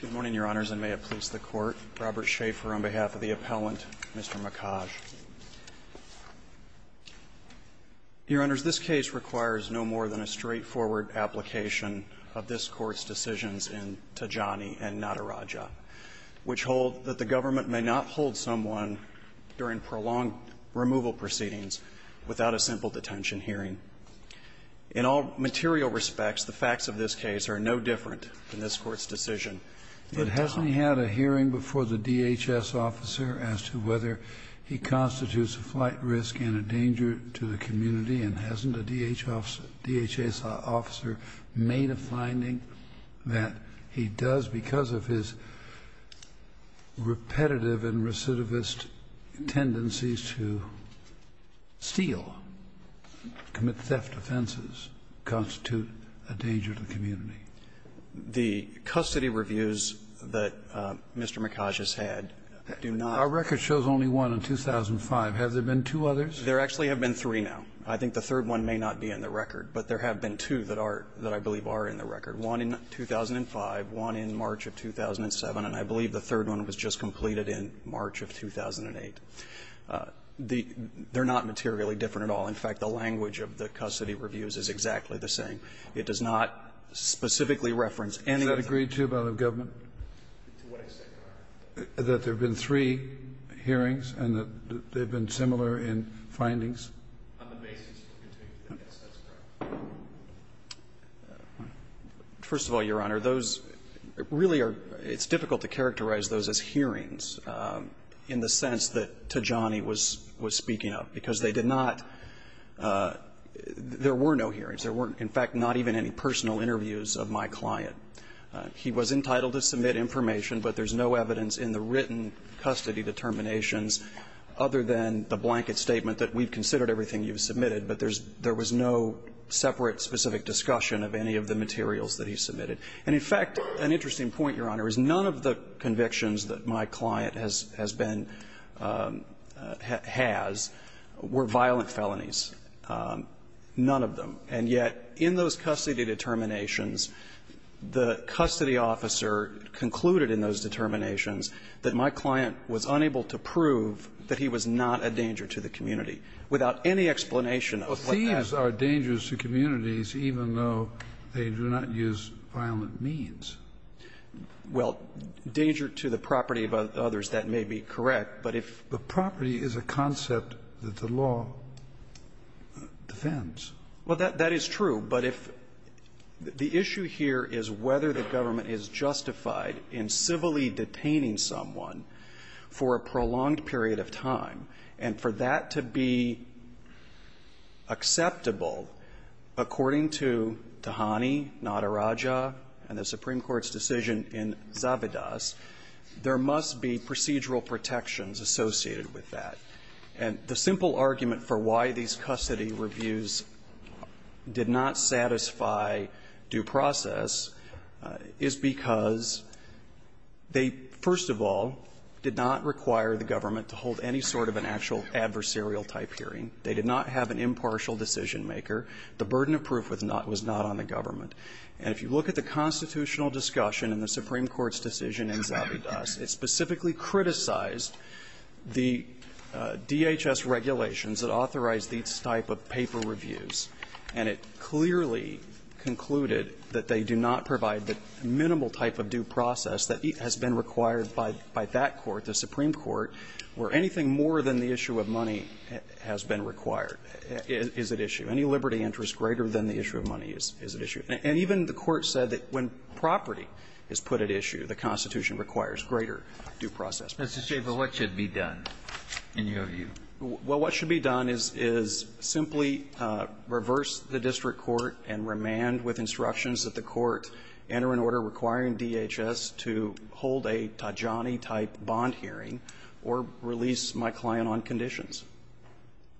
Good morning, Your Honors, and may it please the Court, Robert Schaefer on behalf of the appellant, Mr. Makaj. Your Honors, this case requires no more than a straightforward application of this Court's decisions in Tajani and Nataraja, which hold that the government may not hold someone during prolonged removal proceedings without a simple detention hearing. In all material respects, the facts of this case are no different in this Court's decision. Kennedy But hasn't he had a hearing before the DHS officer as to whether he constitutes a flight risk and a danger to the community, and hasn't a DHS officer had a hearing before the DHS officer made a finding that he does, because of his repetitive and recidivist tendencies to steal, commit theft offenses, constitute a danger to the community? Crowther The custody reviews that Mr. Makaj has had do not refer to the DHS officer as a threat to the community. Kennedy Our record shows only one in 2005. Have there been two others? Crowther There actually have been three now. I think the third one may not be in the record, but there have been two that are that I believe are in the record. One in 2005, one in March of 2007, and I believe the third one was just completed in March of 2008. The they're not materially different at all. In fact, the language of the custody reviews is exactly the same. It does not specifically reference any of the other cases. Kennedy Does that agree, too, by the government? Crowther To what extent, Your Honor? Kennedy That there have been three hearings and that they've been similar in findings. First of all, Your Honor, those really are – it's difficult to characterize those as hearings in the sense that Tajani was speaking of, because they did not – there were no hearings. There were, in fact, not even any personal interviews of my client. He was entitled to submit information, but there's no evidence in the written custody determinations other than the blanket statement that we've considered everything you've submitted, but there was no separate specific discussion of any of the materials that he submitted. And, in fact, an interesting point, Your Honor, is none of the convictions that my client has been – has were violent felonies, none of them. And yet, in those custody determinations, the custody officer concluded in those that he was not a danger to the community, without any explanation of what that was. Kennedy Well, thieves are dangers to communities even though they do not use violent means. Crowther Well, danger to the property of others, that may be correct, but if – Kennedy The property is a concept that the law defends. Crowther Well, that is true, but if – the issue here is whether the government is justified in civilly detaining someone for a prolonged period of time, and for that to be acceptable, according to Tahani, Nadarajah, and the Supreme Court's decision in Zavidas, there must be procedural protections associated with that. And the simple argument for why these custody reviews did not satisfy due process is because they, first of all, did not require the government to hold any sort of an actual adversarial-type hearing. They did not have an impartial decision-maker. The burden of proof was not on the government. And if you look at the constitutional discussion in the Supreme Court's decision in Zavidas, it specifically criticized the DHS regulations that authorized these type of paper reviews, and it clearly concluded that they do not provide the minimal type of due process that has been required by that court, the Supreme Court, where anything more than the issue of money has been required is at issue. Any liberty interest greater than the issue of money is at issue. And even the Court said that when property is put at issue, the Constitution requires greater due process. Kennedy Mr. Schaffer, what should be done, in your view? Schaffer Well, what should be done is simply reverse the district court and remand with instructions that the court enter an order requiring DHS to hold a Tajani-type bond hearing or release my client on conditions.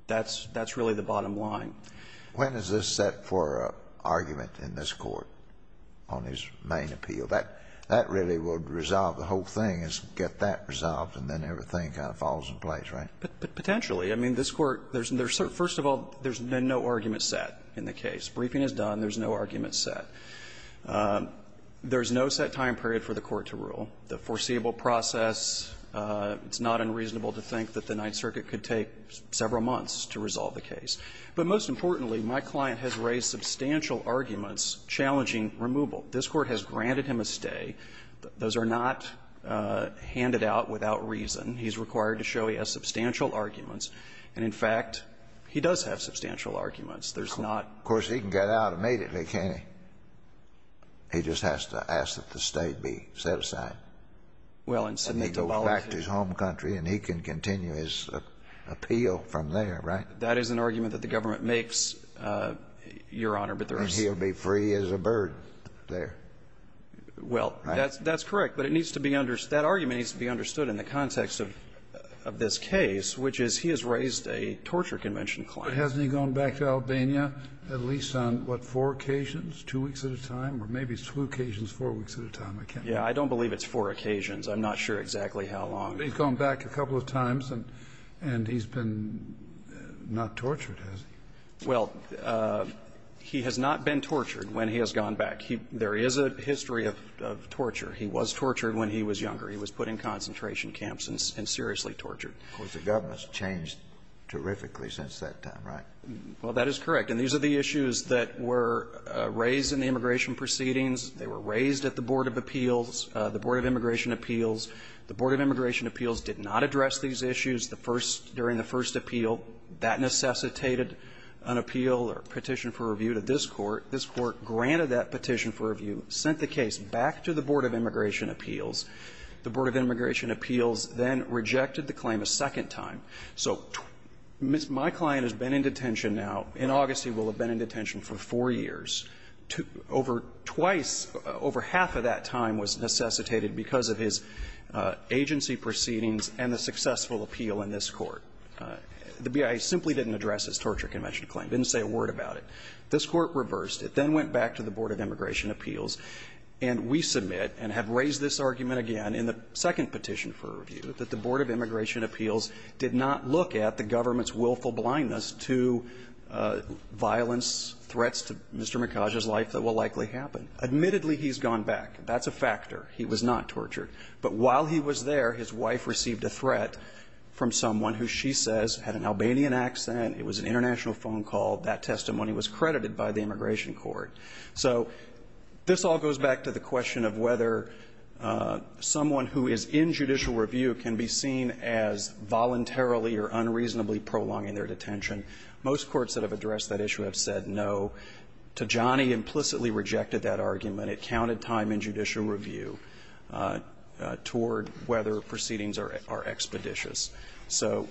That's really the bottom line. Scalia When is this set for argument in this Court on his main appeal? That really would resolve the whole thing, is get that resolved, and then everything kind of falls into place, right? Schaffer Potentially. I mean, this Court, there's no, first of all, there's been no argument set in the case. Briefing is done. There's no argument set. There's no set time period for the Court to rule. The foreseeable process, it's not unreasonable to think that the Ninth Circuit could take several months to resolve the case. But most importantly, my client has raised substantial arguments challenging removal. This Court has granted him a stay. Those are not handed out without reason. He's required to show he has substantial arguments. And, in fact, he does have substantial arguments. There's not ---- Scalia Of course, he can get out immediately, can't he? He just has to ask that the stay be set aside. And he goes back to his home country, and he can continue his appeal from there, right? Schaffer That is an argument that the government makes, Your Honor, but there's ---- Scalia And he'll be free as a bird there. Schaffer Well, that's correct, but it needs to be understood ---- that argument needs to be understood in the context of this case, which is he has raised a torture convention claim. Kennedy But hasn't he gone back to Albania at least on, what, four occasions, two weeks at a time? Or maybe it's two occasions, four weeks at a time. I can't ---- Schaffer Yeah, I don't believe it's four occasions. I'm not sure exactly how long. Kennedy But he's gone back a couple of times, and he's been not tortured, has he? Schaffer Well, he has not been tortured when he has gone back. He ---- there is a history of torture. He was tortured when he was younger. He was put in concentration camps and seriously tortured. Kennedy Of course, the government's changed terrifically since that time, right? Schaffer Well, that is correct. And these are the issues that were raised in the immigration proceedings. They were raised at the Board of Appeals, the Board of Immigration Appeals. The Board of Immigration Appeals did not address these issues the first ---- during the first appeal. That necessitated an appeal or petition for review to this Court. This Court granted that petition for review, sent the case back to the Board of Immigration Appeals. The Board of Immigration Appeals then rejected the claim a second time. So my client has been in detention now, in August he will have been in detention for four years, over twice, over half of that time was necessitated because of his agency proceedings and the successful appeal in this Court. The BIA simply didn't address his torture convention claim, didn't say a word about it. This Court reversed. It then went back to the Board of Immigration Appeals, and we submit and have raised this argument again in the second petition for review that the Board of Immigration Appeals did not look at the government's willful blindness to violence, threats to Mr. Mikhaj's life that will likely happen. Admittedly, he's gone back. That's a factor. He was not tortured. But while he was there, his wife received a threat from someone who she says had an Albanian accent. It was an international phone call. That testimony was credited by the Immigration Court. So this all goes back to the question of whether someone who is in judicial review can be seen as voluntarily or unreasonably prolonging their detention. Most courts that have addressed that issue have said no. Tajani implicitly rejected that argument. It counted time in judicial review toward whether proceedings are expeditious. So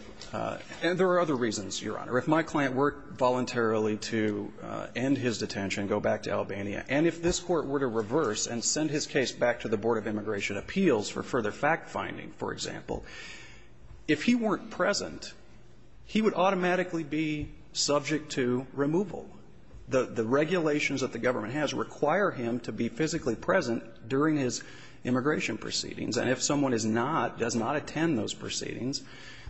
there are other reasons, Your Honor. If my client worked voluntarily to end his detention, go back to Albania, and if this Court were to reverse and send his case back to the Board of Immigration Appeals for further fact-finding, for example, if he weren't present, he would automatically be subject to removal. The regulations that the government has require him to be physically present during his immigration proceedings. And if someone is not, does not attend those proceedings,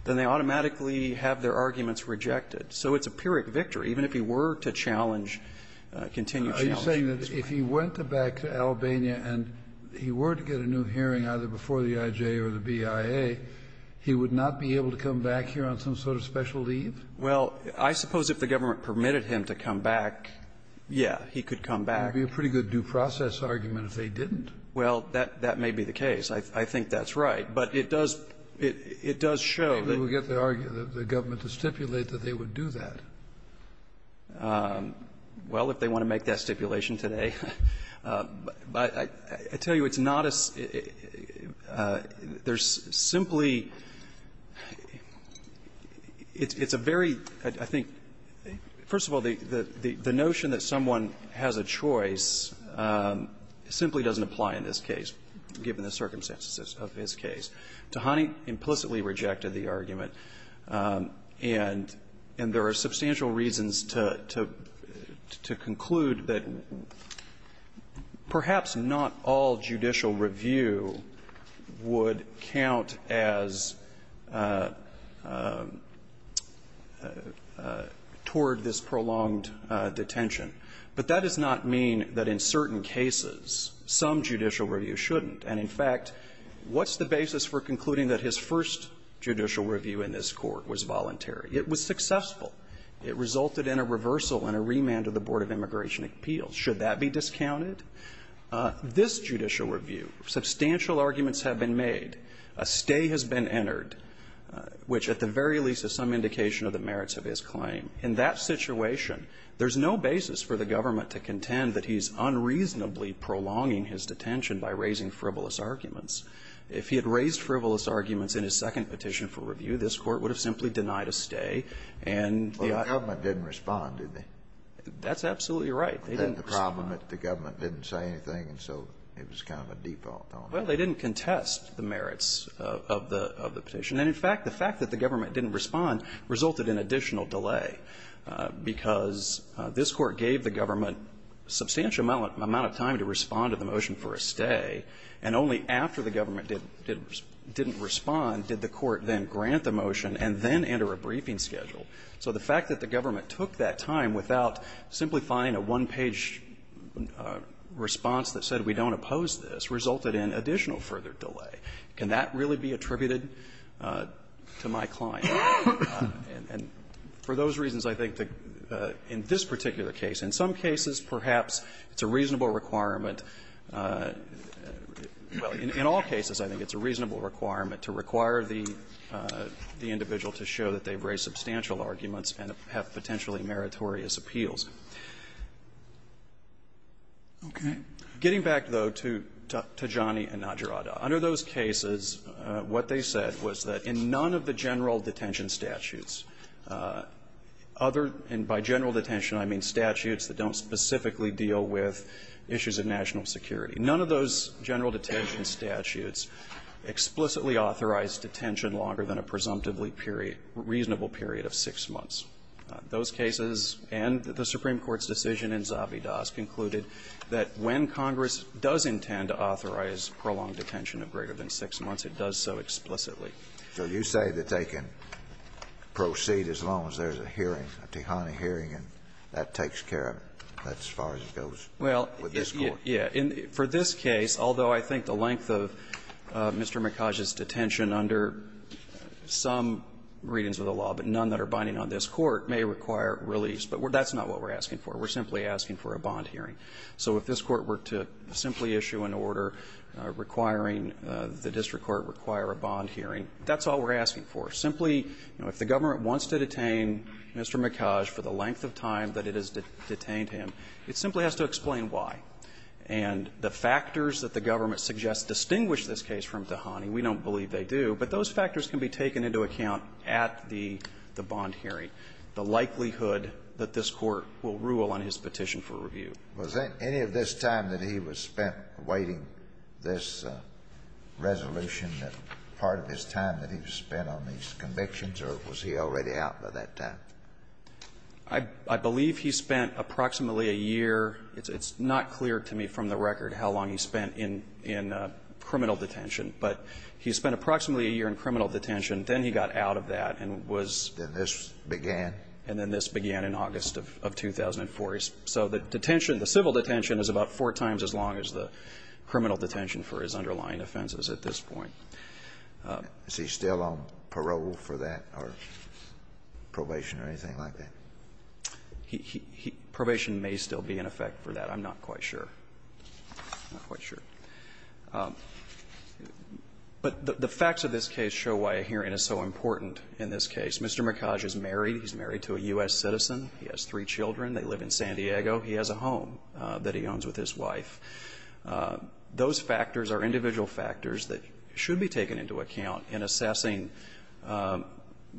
then they automatically have their arguments rejected. So it's a pyrrhic victory, even if he were to challenge, continue to challenge this Court. Kennedy, are you saying that if he went back to Albania and he were to get a new hearing either before the IJ or the BIA, he would not be able to come back here on some sort of special leave? Well, I suppose if the government permitted him to come back, yeah, he could come back. It would be a pretty good due process argument if they didn't. Well, that may be the case. I think that's right. But it does show that we get the argument. The government would stipulate that they would do that. Well, if they want to make that stipulation today, but I tell you, it's not a – there's simply – it's a very, I think – first of all, the notion that someone has a choice simply doesn't apply in this case, given the circumstances of his case. Tahani implicitly rejected the argument. And there are substantial reasons to conclude that perhaps not all judicial review would count as – toward this prolonged detention. But that does not mean that in certain cases some judicial review shouldn't. And in fact, what's the basis for concluding that his first judicial review in this court was voluntary? It was successful. It resulted in a reversal and a remand of the Board of Immigration Appeals. Should that be discounted? This judicial review, substantial arguments have been made. A stay has been entered, which at the very least is some indication of the merits of his claim. In that situation, there's no basis for the government to contend that he's unreasonably prolonging his detention by raising frivolous arguments. If he had raised frivolous arguments in his second petition for review, this court would have simply denied a stay. Well, the government didn't respond, did they? That's absolutely right. They didn't respond. The problem that the government didn't say anything, and so it was kind of a default on them. Well, they didn't contest the merits of the petition. And in fact, the fact that the government didn't respond resulted in additional delay, because this court gave the government a substantial amount of time to respond to the motion for a stay, and only after the government didn't respond did the court then grant the motion and then enter a briefing schedule. So the fact that the government took that time without simplifying a one-page response that said, we don't oppose this, resulted in additional further delay. Can that really be attributed to my client? And for those reasons, I think that in this particular case, in some cases, perhaps it's a reasonable requirement. Well, in all cases, I think it's a reasonable requirement to require the individual to show that they've raised substantial arguments and have potentially meritorious appeals. Okay. Getting back, though, to Tijani and Najrada, under those cases, what they said was that in none of the general detention statutes, other and by general detention I mean statutes that don't specifically deal with issues of national security, none of those general detention statutes explicitly authorized detention longer than a presumptively period, reasonable period of six months. Those cases and the Supreme Court's decision in Zabidas concluded that when Congress does intend to authorize prolonged detention of greater than six months, it does so explicitly. So you say that they can proceed as long as there's a hearing, a Tijani hearing, and that takes care of it. That's as far as it goes with this Court. Well, yeah. For this case, although I think the length of Mr. Mikhaj's detention under some readings of the law, but none that are binding on this Court, may require release. But that's not what we're asking for. We're simply asking for a bond hearing. So if this Court were to simply issue an order requiring the district court require a bond hearing, that's all we're asking for. Simply, you know, if the government wants to detain Mr. Mikhaj for the length of time that it has detained him, it simply has to explain why. And the factors that the government suggests distinguish this case from Tijani, we don't believe they do. But those factors can be taken into account at the bond hearing, the likelihood that this Court will rule on his petition for review. Was any of this time that he was spent awaiting this resolution, part of his time that he was spent on these convictions, or was he already out by that time? I believe he spent approximately a year. It's not clear to me from the record how long he spent in criminal detention. But he spent approximately a year in criminal detention. Then he got out of that and was Then this began. And then this began in August of 2004. So the detention, the civil detention, is about four times as long as the criminal detention for his underlying offenses at this point. Is he still on parole for that or probation or anything like that? He he he probation may still be in effect for that. I'm not quite sure. I'm not quite sure. But the facts of this case show why a hearing is so important in this case. Mr. Mikhaj is married. He's married to a U.S. citizen. He has three children. They live in San Diego. He has a home that he owns with his wife. Those factors are individual factors that should be taken into account in assessing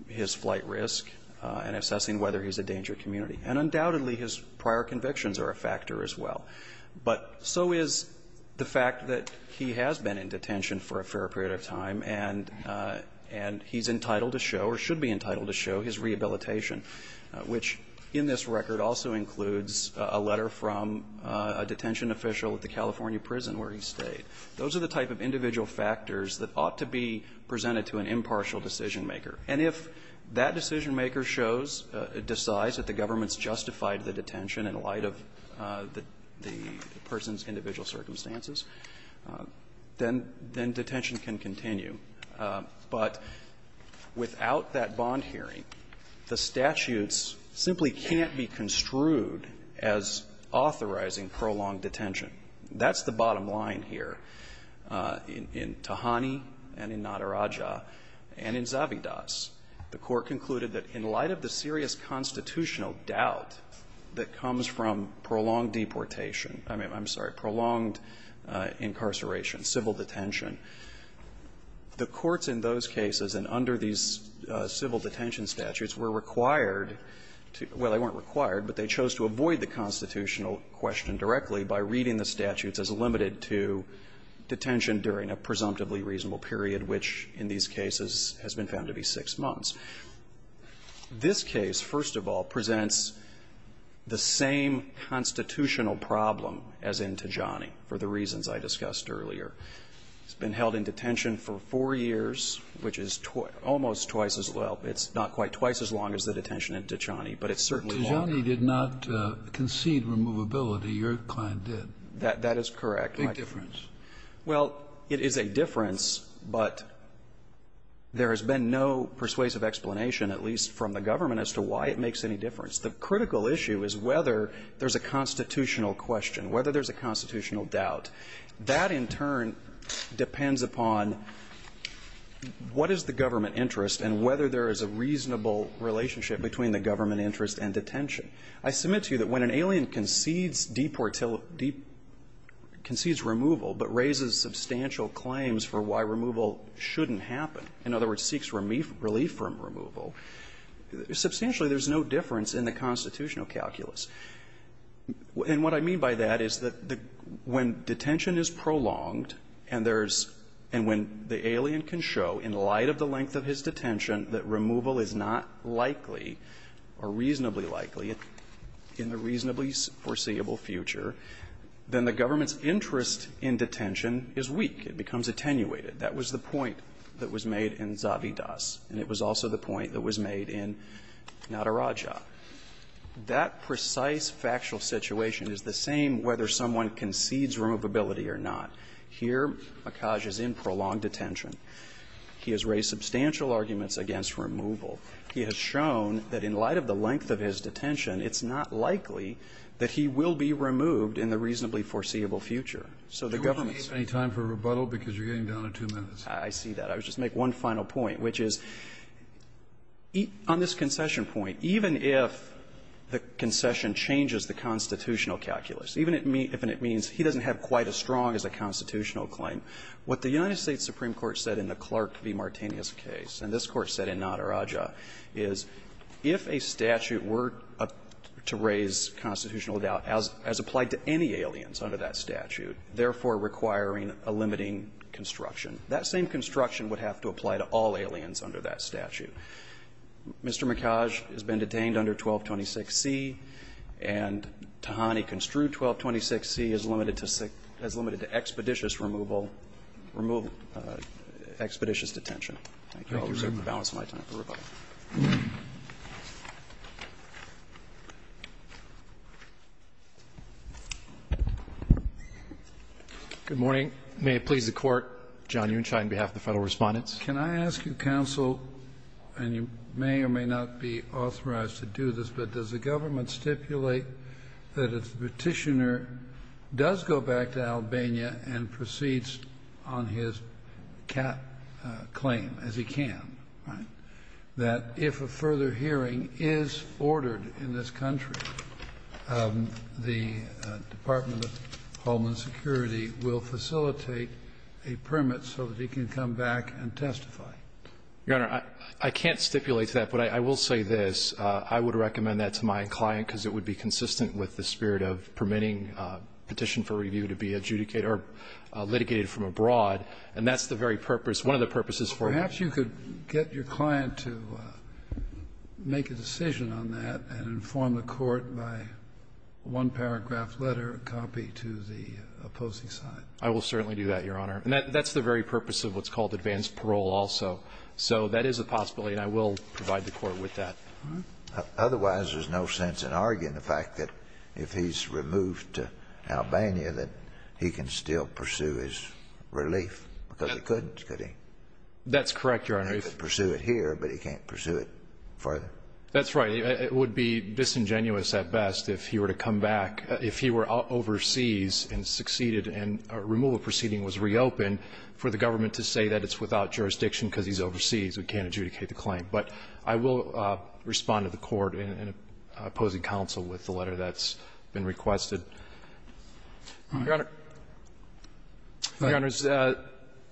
his flight risk and assessing whether he's a danger to the community. And undoubtedly, his prior convictions are a factor as well. But so is the fact that he has been in detention for a fair period of time. And he's entitled to show, or should be entitled to show, his rehabilitation, which in this record also includes a letter from a detention official at the California prison where he stayed. Those are the type of individual factors that ought to be presented to an impartial decisionmaker. And if that decisionmaker shows, decides that the government's justified the detention in light of the person's individual circumstances, then detention can continue. But without that bond hearing, the statutes simply can't be construed as authorizing prolonged detention. That's the bottom line here in Tahani and in Nadaraja and in Zavidas. The Court concluded that in light of the serious constitutional doubt that comes from prolonged deportation – I'm sorry, prolonged incarceration, civil detention, the courts in those cases and under these civil detention statutes were required to – well, they weren't required, but they chose to avoid the constitutional question directly by reading the statutes as limited to detention during a presumptively reasonable period, which in these cases has been found to be six months. This case, first of all, presents the same constitutional problem as in Tahani for the reasons I discussed earlier. It's been held in detention for four years, which is almost twice as – well, it's not quite twice as long as the detention in Tahani, but it's certainly longer. Kennedy. Tahani did not concede removability. Your client did. That is correct. Big difference. Well, it is a difference, but there has been no persuasive explanation, at least from the government, as to why it makes any difference. The critical issue is whether there's a constitutional question, whether there's a constitutional doubt. That in turn depends upon what is the government interest and whether there is a reasonable relationship between the government interest and detention. I submit to you that when an alien concedes deportility – concedes removal but raises substantial claims for why removal shouldn't happen, in other words, seeks relief from removal, substantially there's no difference in the constitutional calculus. And what I mean by that is that when detention is prolonged and there's – and when the alien can show, in light of the length of his detention, that removal is not likely or reasonably likely in the reasonably foreseeable future, then the government's interest in detention is weak. It becomes attenuated. That was the point that was made in Zavidas, and it was also the point that was made in Nataraja. That precise factual situation is the same whether someone concedes removability or not. Here, Akaj is in prolonged detention. He has raised substantial arguments against removal. He has shown that in light of the length of his detention, it's not likely that he will be removed in the reasonably foreseeable future. So the government's – Kennedy, do we have any time for rebuttal, because you're getting down to two minutes? I see that. I'll just make one final point, which is, on this concession point, even if the government says that if the concession changes the constitutional calculus, even if it means he doesn't have quite as strong as a constitutional claim, what the United States Supreme Court said in the Clark v. Martinez case, and this Court said in Nataraja, is if a statute were to raise constitutional doubt as applied to any aliens under that statute, therefore requiring a limiting construction, that same construction would have to apply to all aliens under that statute. Mr. Akaj has been detained under 1226C, and Tahani construed 1226C as limited to – as limited to expeditious removal – expeditious detention. Thank you. I'll reserve the balance of my time for rebuttal. Good morning. May it please the Court, John Unschied on behalf of the Federal Respondents. Can I ask you, counsel, and you may or may not be authorized to do this, but does the government stipulate that if the Petitioner does go back to Albania and proceeds on his cap claim, as he can, right, that if a further hearing is ordered in this country, the Department of Homeland Security will facilitate a permit so that he can come back and testify? Your Honor, I can't stipulate that, but I will say this. I would recommend that to my client because it would be consistent with the spirit of permitting a petition for review to be adjudicated or litigated from abroad, and that's the very purpose, one of the purposes for that. Perhaps you could get your client to make a decision on that and inform the Court by one paragraph letter, a copy to the opposing side. I will certainly do that, Your Honor. And that's the very purpose of what's called advanced parole also. So that is a possibility, and I will provide the Court with that. Otherwise, there's no sense in arguing the fact that if he's removed to Albania that he can still pursue his relief, because he couldn't, could he? That's correct, Your Honor. He could pursue it here, but he can't pursue it further. That's right. It would be disingenuous at best if he were to come back, if he were overseas and succeeded and a removal proceeding was reopened, for the government to say that it's without jurisdiction because he's overseas, we can't adjudicate the claim. But I will respond to the Court in opposing counsel with the letter that's been requested. Your Honor,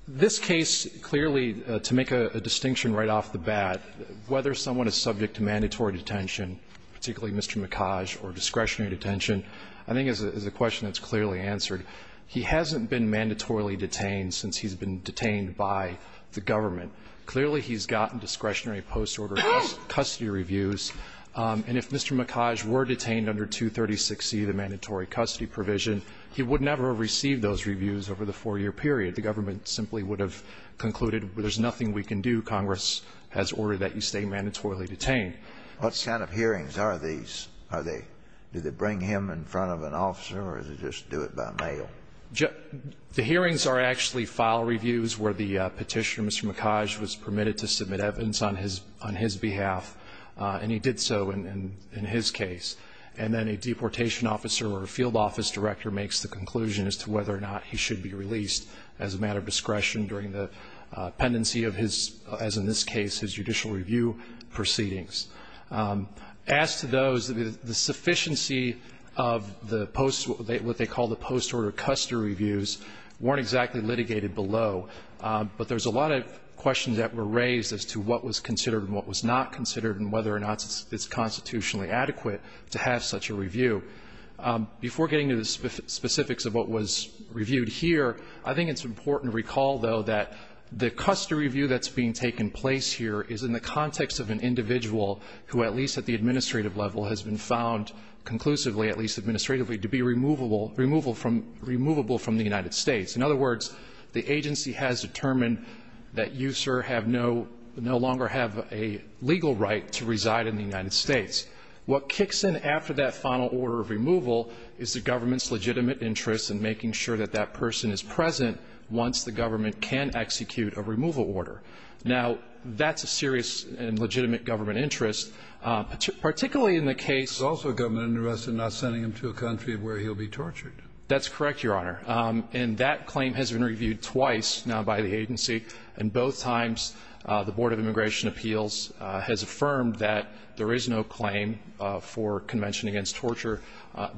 this case clearly, to make a distinction right off the bat, whether someone is subject to mandatory detention, particularly Mr. Mikhaj, or discretionary post-order custody reviews, and if Mr. Mikhaj were detained under 236C, the mandatory custody provision, he would never have received those reviews over the four-year period. The government simply would have concluded, well, there's nothing we can do. Congress has ordered that you stay mandatorily detained. What kind of hearings are these? Are they, do they bring him in front of an officer, or is it just do it in front of an officer? Or do they do it by mail? The hearings are actually file reviews where the petitioner, Mr. Mikhaj, was permitted to submit evidence on his behalf, and he did so in his case. And then a deportation officer or a field office director makes the conclusion as to whether or not he should be released as a matter of discretion during the pendency of his, as in this case, his judicial review proceedings. As to those, the sufficiency of the post, what they call the post-order custody reviews, weren't exactly litigated below. But there's a lot of questions that were raised as to what was considered and what was not considered, and whether or not it's constitutionally adequate to have such a review. Before getting to the specifics of what was reviewed here, I think it's important to recall, though, that the custody review that's being taken place here is in the final order of removal, who at least at the administrative level has been found conclusively, at least administratively, to be removable from the United States. In other words, the agency has determined that you, sir, no longer have a legal right to reside in the United States. What kicks in after that final order of removal is the government's legitimate interest in making sure that that person is present once the government can execute a removal order. Now, that's a serious and legitimate government interest, particularly in the case It's also a government interest in not sending him to a country where he'll be tortured. That's correct, Your Honor. And that claim has been reviewed twice now by the agency. And both times the Board of Immigration Appeals has affirmed that there is no claim for convention against torture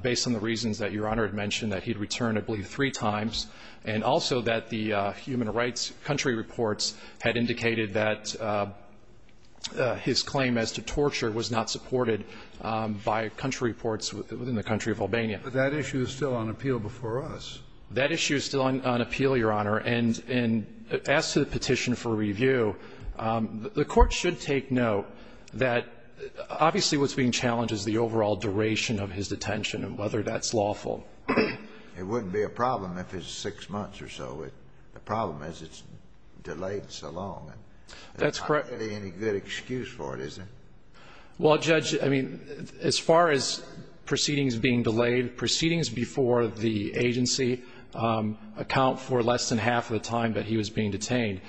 based on the reasons that Your Honor had mentioned that he'd return, I believe, three times, and also that the human rights country reports had indicated that his claim as to torture was not supported by country reports within the country of Albania. But that issue is still on appeal before us. That issue is still on appeal, Your Honor. And as to the petition for review, the Court should take note that obviously what's being challenged is the overall duration of his detention and whether that's lawful. It wouldn't be a problem if it's six months or so. But the problem is it's delayed so long. That's correct. There's not really any good excuse for it, is there? Well, Judge, I mean, as far as proceedings being delayed, proceedings before the agency account for less than half of the time that he was being detained.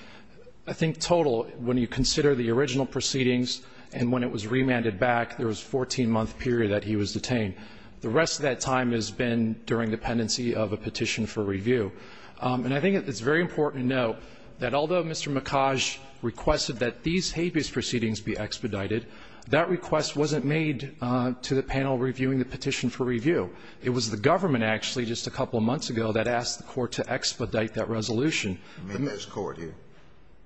I think total, when you consider the original proceedings and when it was remanded back, there was a 14-month period that he was detained. The rest of that time has been during dependency of a petition for review. And I think it's very important to note that although Mr. Mikaj requested that these habeas proceedings be expedited, that request wasn't made to the panel reviewing the petition for review. It was the government, actually, just a couple of months ago that asked the Court to expedite that resolution. In this court here?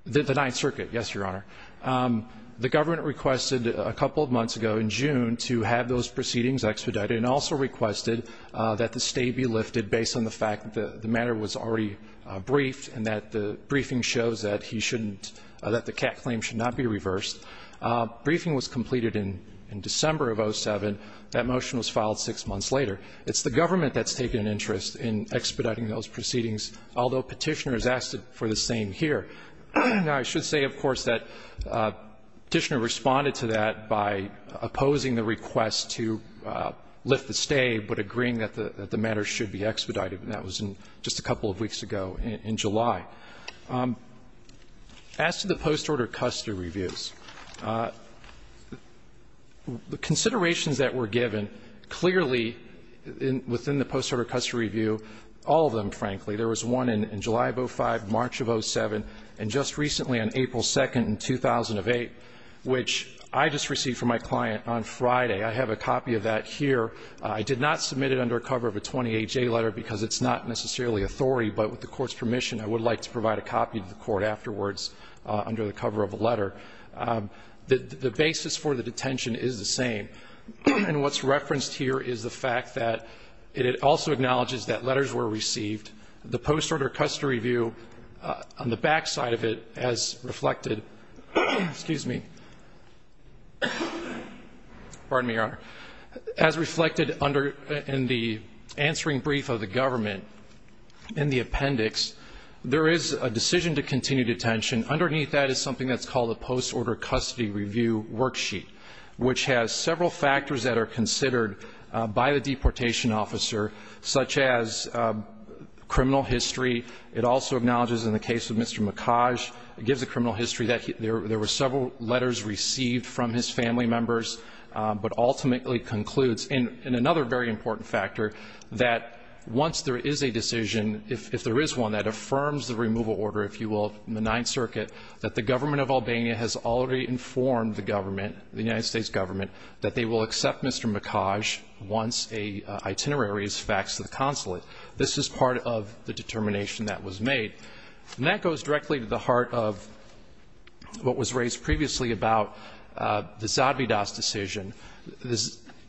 The Ninth Circuit, yes, Your Honor. The government requested a couple of months ago in June to have those proceedings expedited and also requested that the stay be lifted based on the fact that the matter was already briefed and that the briefing shows that he shouldn't, that the CAC claim should not be reversed. Briefing was completed in December of 2007. That motion was filed six months later. It's the government that's taken an interest in expediting those proceedings, although Petitioner has asked for the same here. Now, I should say, of course, that Petitioner responded to that by opposing the request to lift the stay but agreeing that the matter should be expedited, and that was in just a couple of weeks ago in July. As to the post-order custody reviews, the considerations that were given clearly within the post-order custody review, all of them, frankly. There was one in July of 2005, March of 2007, and just recently on April 2nd in 2008, which I just received from my client on Friday. I have a copy of that here. I did not submit it under a cover of a 20HA letter because it's not necessarily authority, but with the court's permission, I would like to provide a copy to the court afterwards under the cover of a letter. The basis for the detention is the same, and what's referenced here is the fact that it also acknowledges that letters were received. The post-order custody review on the back side of it has reflected, excuse me, pardon me, Your Honor. As reflected in the answering brief of the government in the appendix, there is a decision to continue detention. Underneath that is something that's called a post-order custody review worksheet, which has several factors that are considered by the deportation officer, such as criminal history. It also acknowledges in the case of Mr. Mikaj, it gives the criminal history that there were several letters received from his family members, but ultimately concludes. And another very important factor, that once there is a decision, if there is one that affirms the removal order, if you will, in the Ninth Circuit, that the government of Albania has already informed the government, the United States government, that they will accept Mr. Mikaj once an itinerary is faxed to the consulate. This is part of the determination that was made. And that goes directly to the heart of what was raised previously about the Zadvydas decision.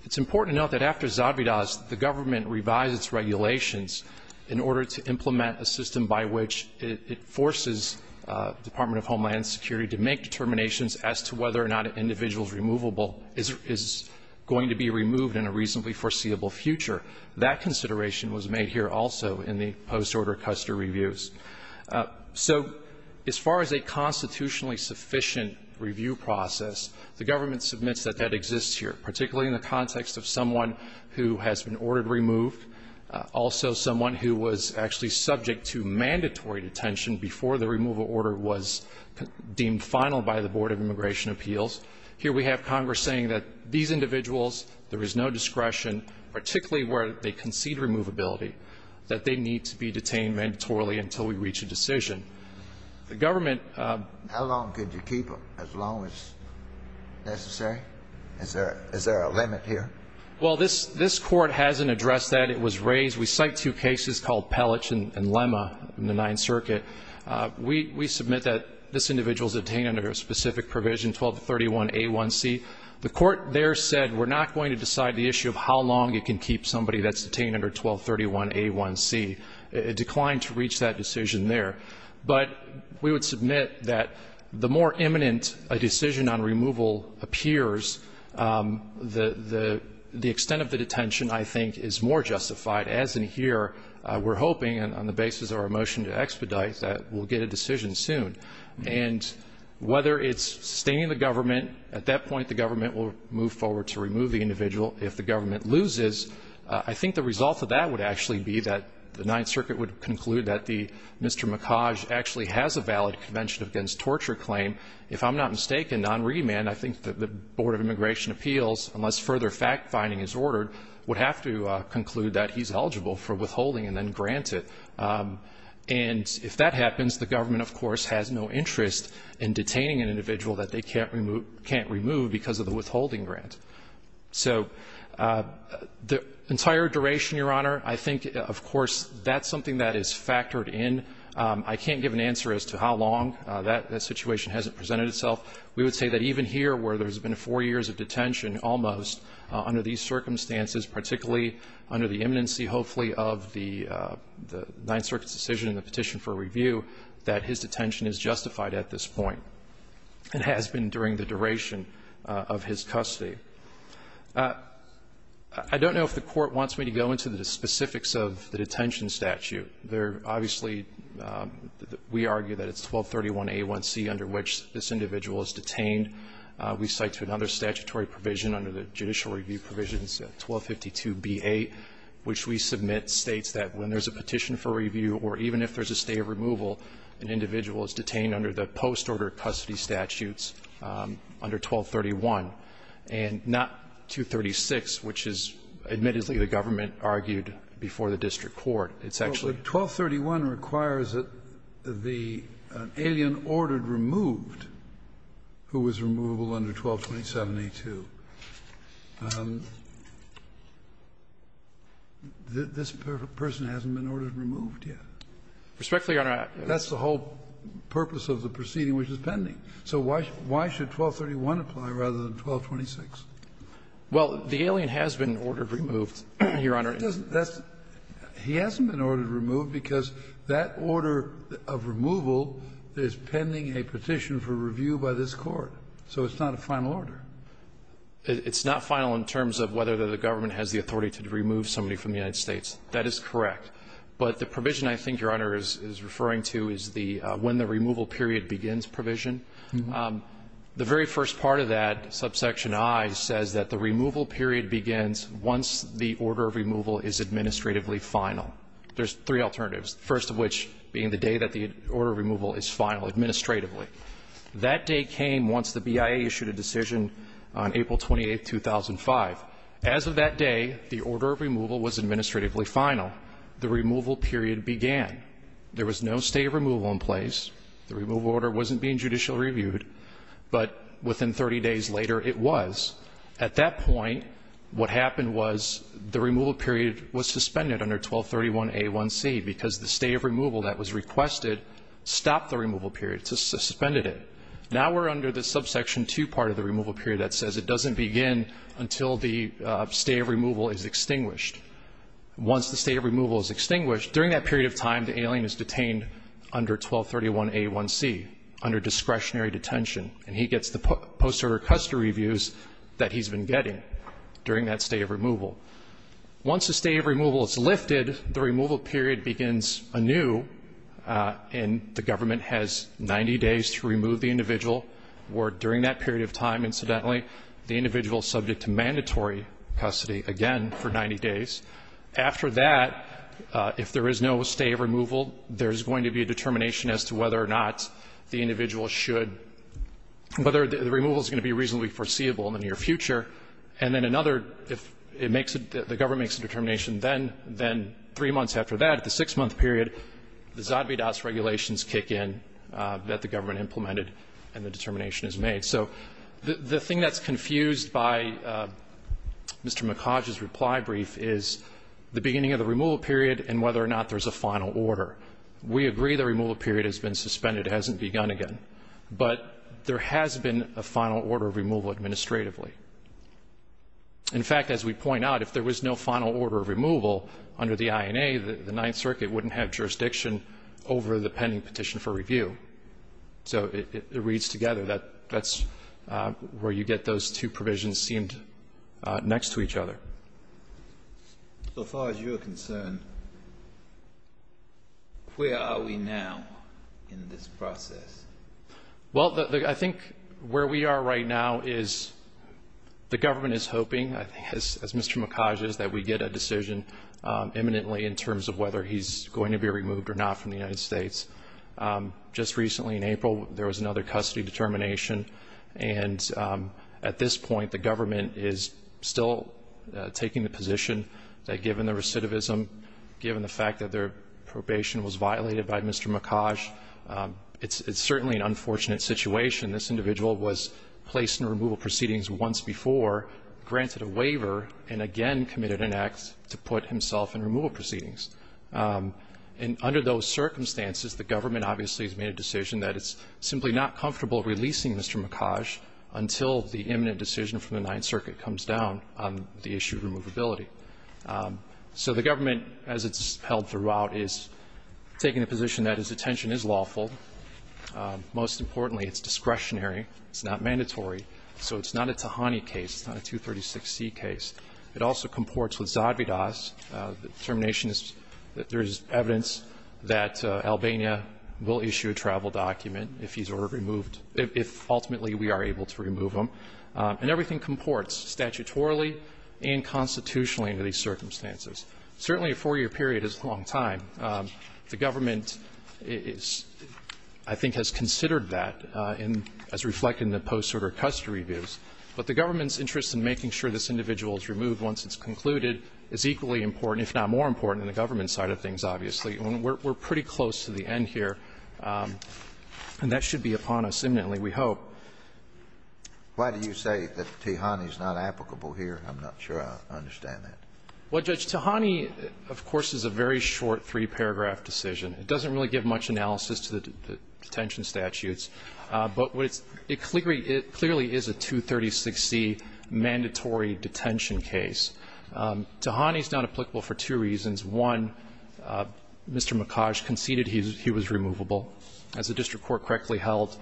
It's important to note that after Zadvydas, the government revised its regulations in order to implement a system by which it forces the Department of Homeland Security to make determinations as to whether or not an individual's removable is going to be removed in a reasonably foreseeable future. That consideration was made here also in the post-order Custer reviews. So as far as a constitutionally sufficient review process, the government submits that that exists here, particularly in the context of someone who has been ordered removed, also someone who was actually subject to mandatory detention before the removal order was deemed final by the Board of Immigration Appeals. Here we have Congress saying that these individuals, there is no discretion, particularly where they concede removability, that they need to be detained mandatorily until we reach a decision. The government ---- How long could you keep them as long as necessary? Is there a limit here? Well, this Court hasn't addressed that. It was raised. We cite two cases called Pellich and Lemma in the Ninth Circuit. We submit that this individual is detained under a specific provision, 1231A1C. The Court there said, we're not going to decide the issue of how long you can keep somebody that's detained under 1231A1C. It declined to reach that decision there. But we would submit that the more imminent a decision on removal appears, the extent of the detention, I think, is more justified. As in here, we're hoping, on the basis of our motion to expedite that, we'll get a decision soon. And whether it's sustaining the government, at that point the government will move forward to remove the individual. If the government loses, I think the result of that would actually be that the Ninth Circuit would conclude that Mr. Mikaj actually has a valid Convention Against Torture claim. If I'm not mistaken, on remand, I think the Board of Immigration Appeals, unless further fact-finding is ordered, would have to conclude that he's eligible for withholding and then grant it. And if that happens, the government, of course, has no interest in detaining an individual that they can't remove because of the withholding grant. So the entire duration, Your Honor, I think, of course, that's something that is factored in. I can't give an answer as to how long. That situation hasn't presented itself. We would say that even here, where there's been four years of detention almost under these circumstances, particularly under the imminency, hopefully, of the Ninth Circuit's decision and the petition for review, that his detention is justified at this point and has been during the duration of his custody. I don't know if the Court wants me to go into the specifics of the detention statute. There obviously we argue that it's 1231A1C under which this individual is detained. We cite to another statutory provision under the Judicial Review provisions, 1252B8, which we submit states that when there's a petition for review or even if there's a stay of removal, an individual is detained under the post-order custody statutes under 1231, and not 236, which is, admittedly, the government argued before the district court. It's actually 1231 requires that the alien ordered removed who was removable under 1227A2, this person hasn't been ordered removed yet. Respectfully, Your Honor, I have to ask you. Kennedy, that's the whole purpose of the proceeding which is pending. So why should 1231 apply rather than 1226? Well, the alien has been ordered removed, Your Honor. He hasn't been ordered removed because that order of removal is pending a petition for review by this Court. So it's not a final order. It's not final in terms of whether the government has the authority to remove somebody from the United States. That is correct. But the provision I think Your Honor is referring to is the when the removal period begins provision. The very first part of that subsection I says that the removal period begins once the order of removal is administratively final. There's three alternatives, the first of which being the day that the order of removal is final administratively. That day came once the BIA issued a decision on April 28, 2005. As of that day, the order of removal was administratively final. The removal period began. There was no stay of removal in place. The removal order wasn't being judicially reviewed. But within 30 days later, it was. At that point, what happened was the removal period was suspended under 1231A1C because the stay of removal that was requested stopped the removal period, just suspended it. Now we're under the subsection 2 part of the removal period that says it doesn't begin until the stay of removal is extinguished. Once the stay of removal is extinguished, during that period of time, the alien is detained under 1231A1C under discretionary detention, and he gets the post-order custody reviews that he's been getting during that stay of removal. Once the stay of removal is lifted, the removal period begins anew, and the government has 90 days to remove the individual, or during that period of time, incidentally, the individual is subject to mandatory custody again for 90 days. After that, if there is no stay of removal, there's going to be a determination as to whether or not the individual should – whether the removal is going to be reasonably foreseeable in the near future. And then another, if it makes – the government makes a determination, then three months after that, the six-month period, the Zadvydas regulations kick in that the government implemented, and the determination is made. So the thing that's confused by Mr. McHodge's reply brief is the beginning of the removal period and whether or not there's a final order. We agree the removal period has been suspended. It hasn't begun again. But there has been a final order of removal administratively. In fact, as we point out, if there was no final order of removal under the INA, the Ninth Circuit wouldn't have jurisdiction over the pending petition for review. So it reads together. That's where you get those two provisions seemed next to each other. So far as you're concerned, where are we now in this process? Well, I think where we are right now is the government is hoping, as Mr. McHodge is, that we get a decision imminently in terms of whether he's going to be removed or not from the United States. Just recently in April, there was another custody determination, and at this point the government is still taking the position that given the recidivism, given the fact that their probation was violated by Mr. McHodge, it's certainly an unfortunate situation. This individual was placed in removal proceedings once before, granted a waiver, and again committed an act to put himself in removal proceedings. And under those circumstances, the government obviously has made a decision that it's simply not comfortable releasing Mr. McHodge until the imminent decision from the Ninth Circuit comes down on the issue of removability. So the government, as it's held throughout, is taking a position that his detention is lawful. Most importantly, it's discretionary. It's not mandatory. So it's not a Tahani case. It's not a 236C case. It also comports with Zadvydas. The determination is that there is evidence that Albania will issue a travel document if he's ordered removed, if ultimately we are able to remove him. And everything comports statutorily and constitutionally under these circumstances. Certainly a four-year period is a long time. The government is, I think, has considered that as reflected in the post-order custody reviews, but the government's interest in making sure this individual is removed once it's concluded is equally important, if not more important, than the government's side of things, obviously. And we're pretty close to the end here. And that should be upon us imminently, we hope. Why do you say that Tahani is not applicable here? I'm not sure I understand that. Well, Judge, Tahani, of course, is a very short three-paragraph decision. It doesn't really give much analysis to the detention statutes. But it clearly is a 236C mandatory detention case. Tahani is not applicable for two reasons. One, Mr. Mikhaj conceded he was removable. As the district court correctly held,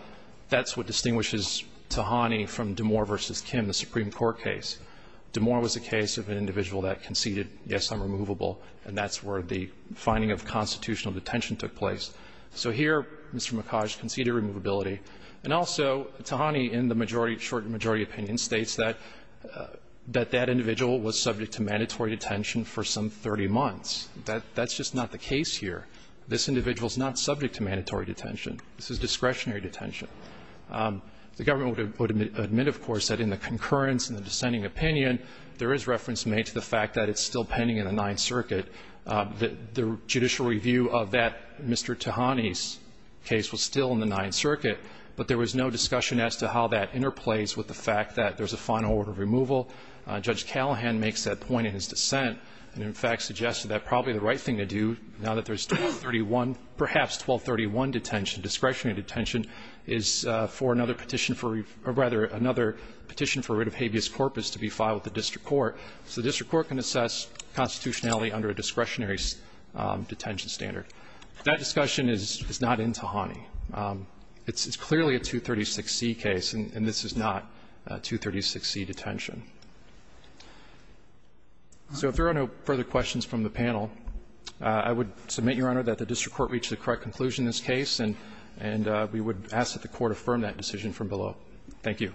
that's what distinguishes Tahani from DeMoor v. Kim, the Supreme Court case. DeMoor was a case of an individual that conceded, yes, I'm removable, and that's where the finding of constitutional detention took place. So here, Mr. Mikhaj conceded removability. And also, Tahani, in the majority, short majority opinion, states that that individual was subject to mandatory detention for some 30 months. That's just not the case here. This individual is not subject to mandatory detention. This is discretionary detention. The government would admit, of course, that in the concurrence and the dissenting opinion, there is reference made to the fact that it's still pending in the Ninth Circuit. The judicial review of that Mr. Tahani's case was still in the Ninth Circuit, but there was no discussion as to how that interplays with the fact that there's a final order of removal. Judge Callahan makes that point in his dissent and, in fact, suggested that probably the right thing to do, now that there's 1231, perhaps 1231 detention, discretionary detention, is for another petition for or, rather, another petition for writ of habeas corpus to be filed with the district court. So the district court can assess constitutionality under a discretionary detention standard. That discussion is not in Tahani. It's clearly a 236C case, and this is not 236C detention. So if there are no further questions from the panel, I would submit, Your Honor, that the district court reached the correct conclusion in this case, and we would ask that the Court affirm that decision from below. Thank you.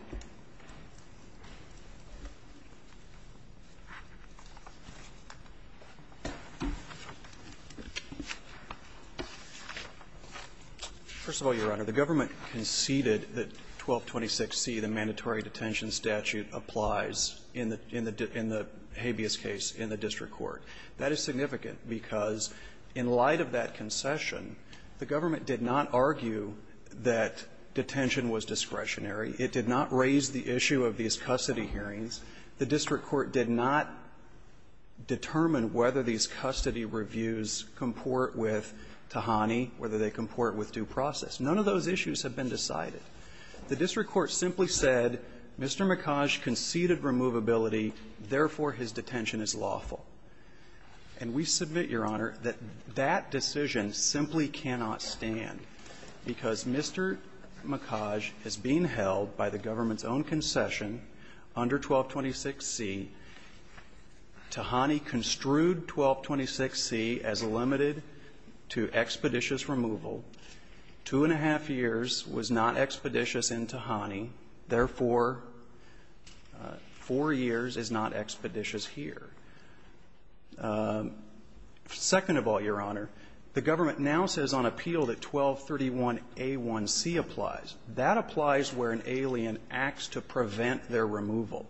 First of all, Your Honor, the government conceded that 1226C, the mandatory detention statute, applies in the habeas case in the district court. That is significant because in light of that concession, the government did not argue that detention was discretionary. It did not raise the issue of these custody hearings. The district court did not determine whether these custody reviews comport with Tahani, whether they comport with due process. None of those issues have been decided. The district court simply said, Mr. Mikhaj conceded removability, therefore, his detention is lawful. And we submit, Your Honor, that that decision simply cannot stand because Mr. Mikhaj is being held by the government's own concession under 1226C. Tahani construed 1226C as limited to expeditious removal. Two and a half years was not expeditious in Tahani. Therefore, four years is not expeditious here. Second of all, Your Honor, the government now says on appeal that 1231A1C applies. That applies where an alien acts to prevent their removal.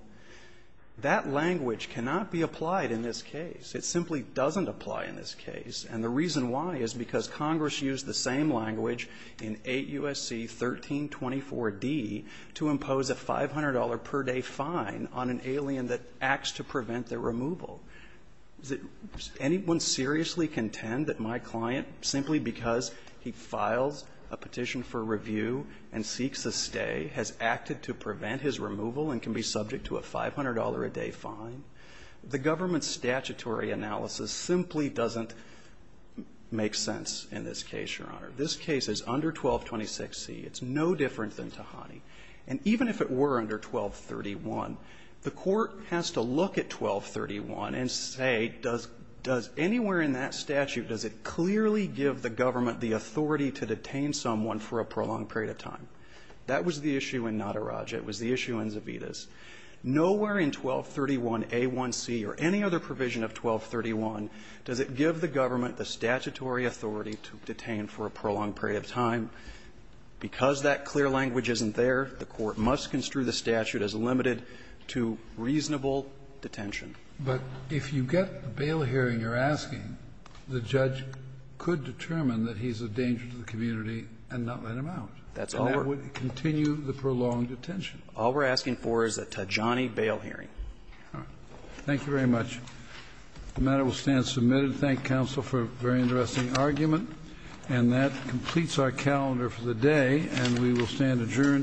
That language cannot be applied in this case. It simply doesn't apply in this case. And the reason why is because Congress used the same language in 8 U.S.C. 1324D to impose a $500 per day fine on an alien that acts to prevent their removal. Does anyone seriously contend that my client, simply because he files a petition for review and seeks a stay, has acted to prevent his removal and can be subject to a $500-a-day fine? The government's statutory analysis simply doesn't make sense in this case, Your Honor. This case is under 1226C. It's no different than Tahani. And even if it were under 1231, the Court has to look at 1231 and say, does anywhere in that statute, does it clearly give the government the authority to detain someone for a prolonged period of time? That was the issue in Nadaraj. It was the issue in Zavitas. Nowhere in 1231A1C or any other provision of 1231 does it give the government the statutory authority to detain for a prolonged period of time. Because that clear bail hearing you're asking, the judge could determine that he's a danger to the community and not let him out. And that would continue the prolonged detention. All we're asking for is a Tahani bail hearing. All right. Thank you very much. The matter will stand submitted. Thank you, counsel, for a very interesting argument. And that completes our calendar for the day. And we will stand adjourned.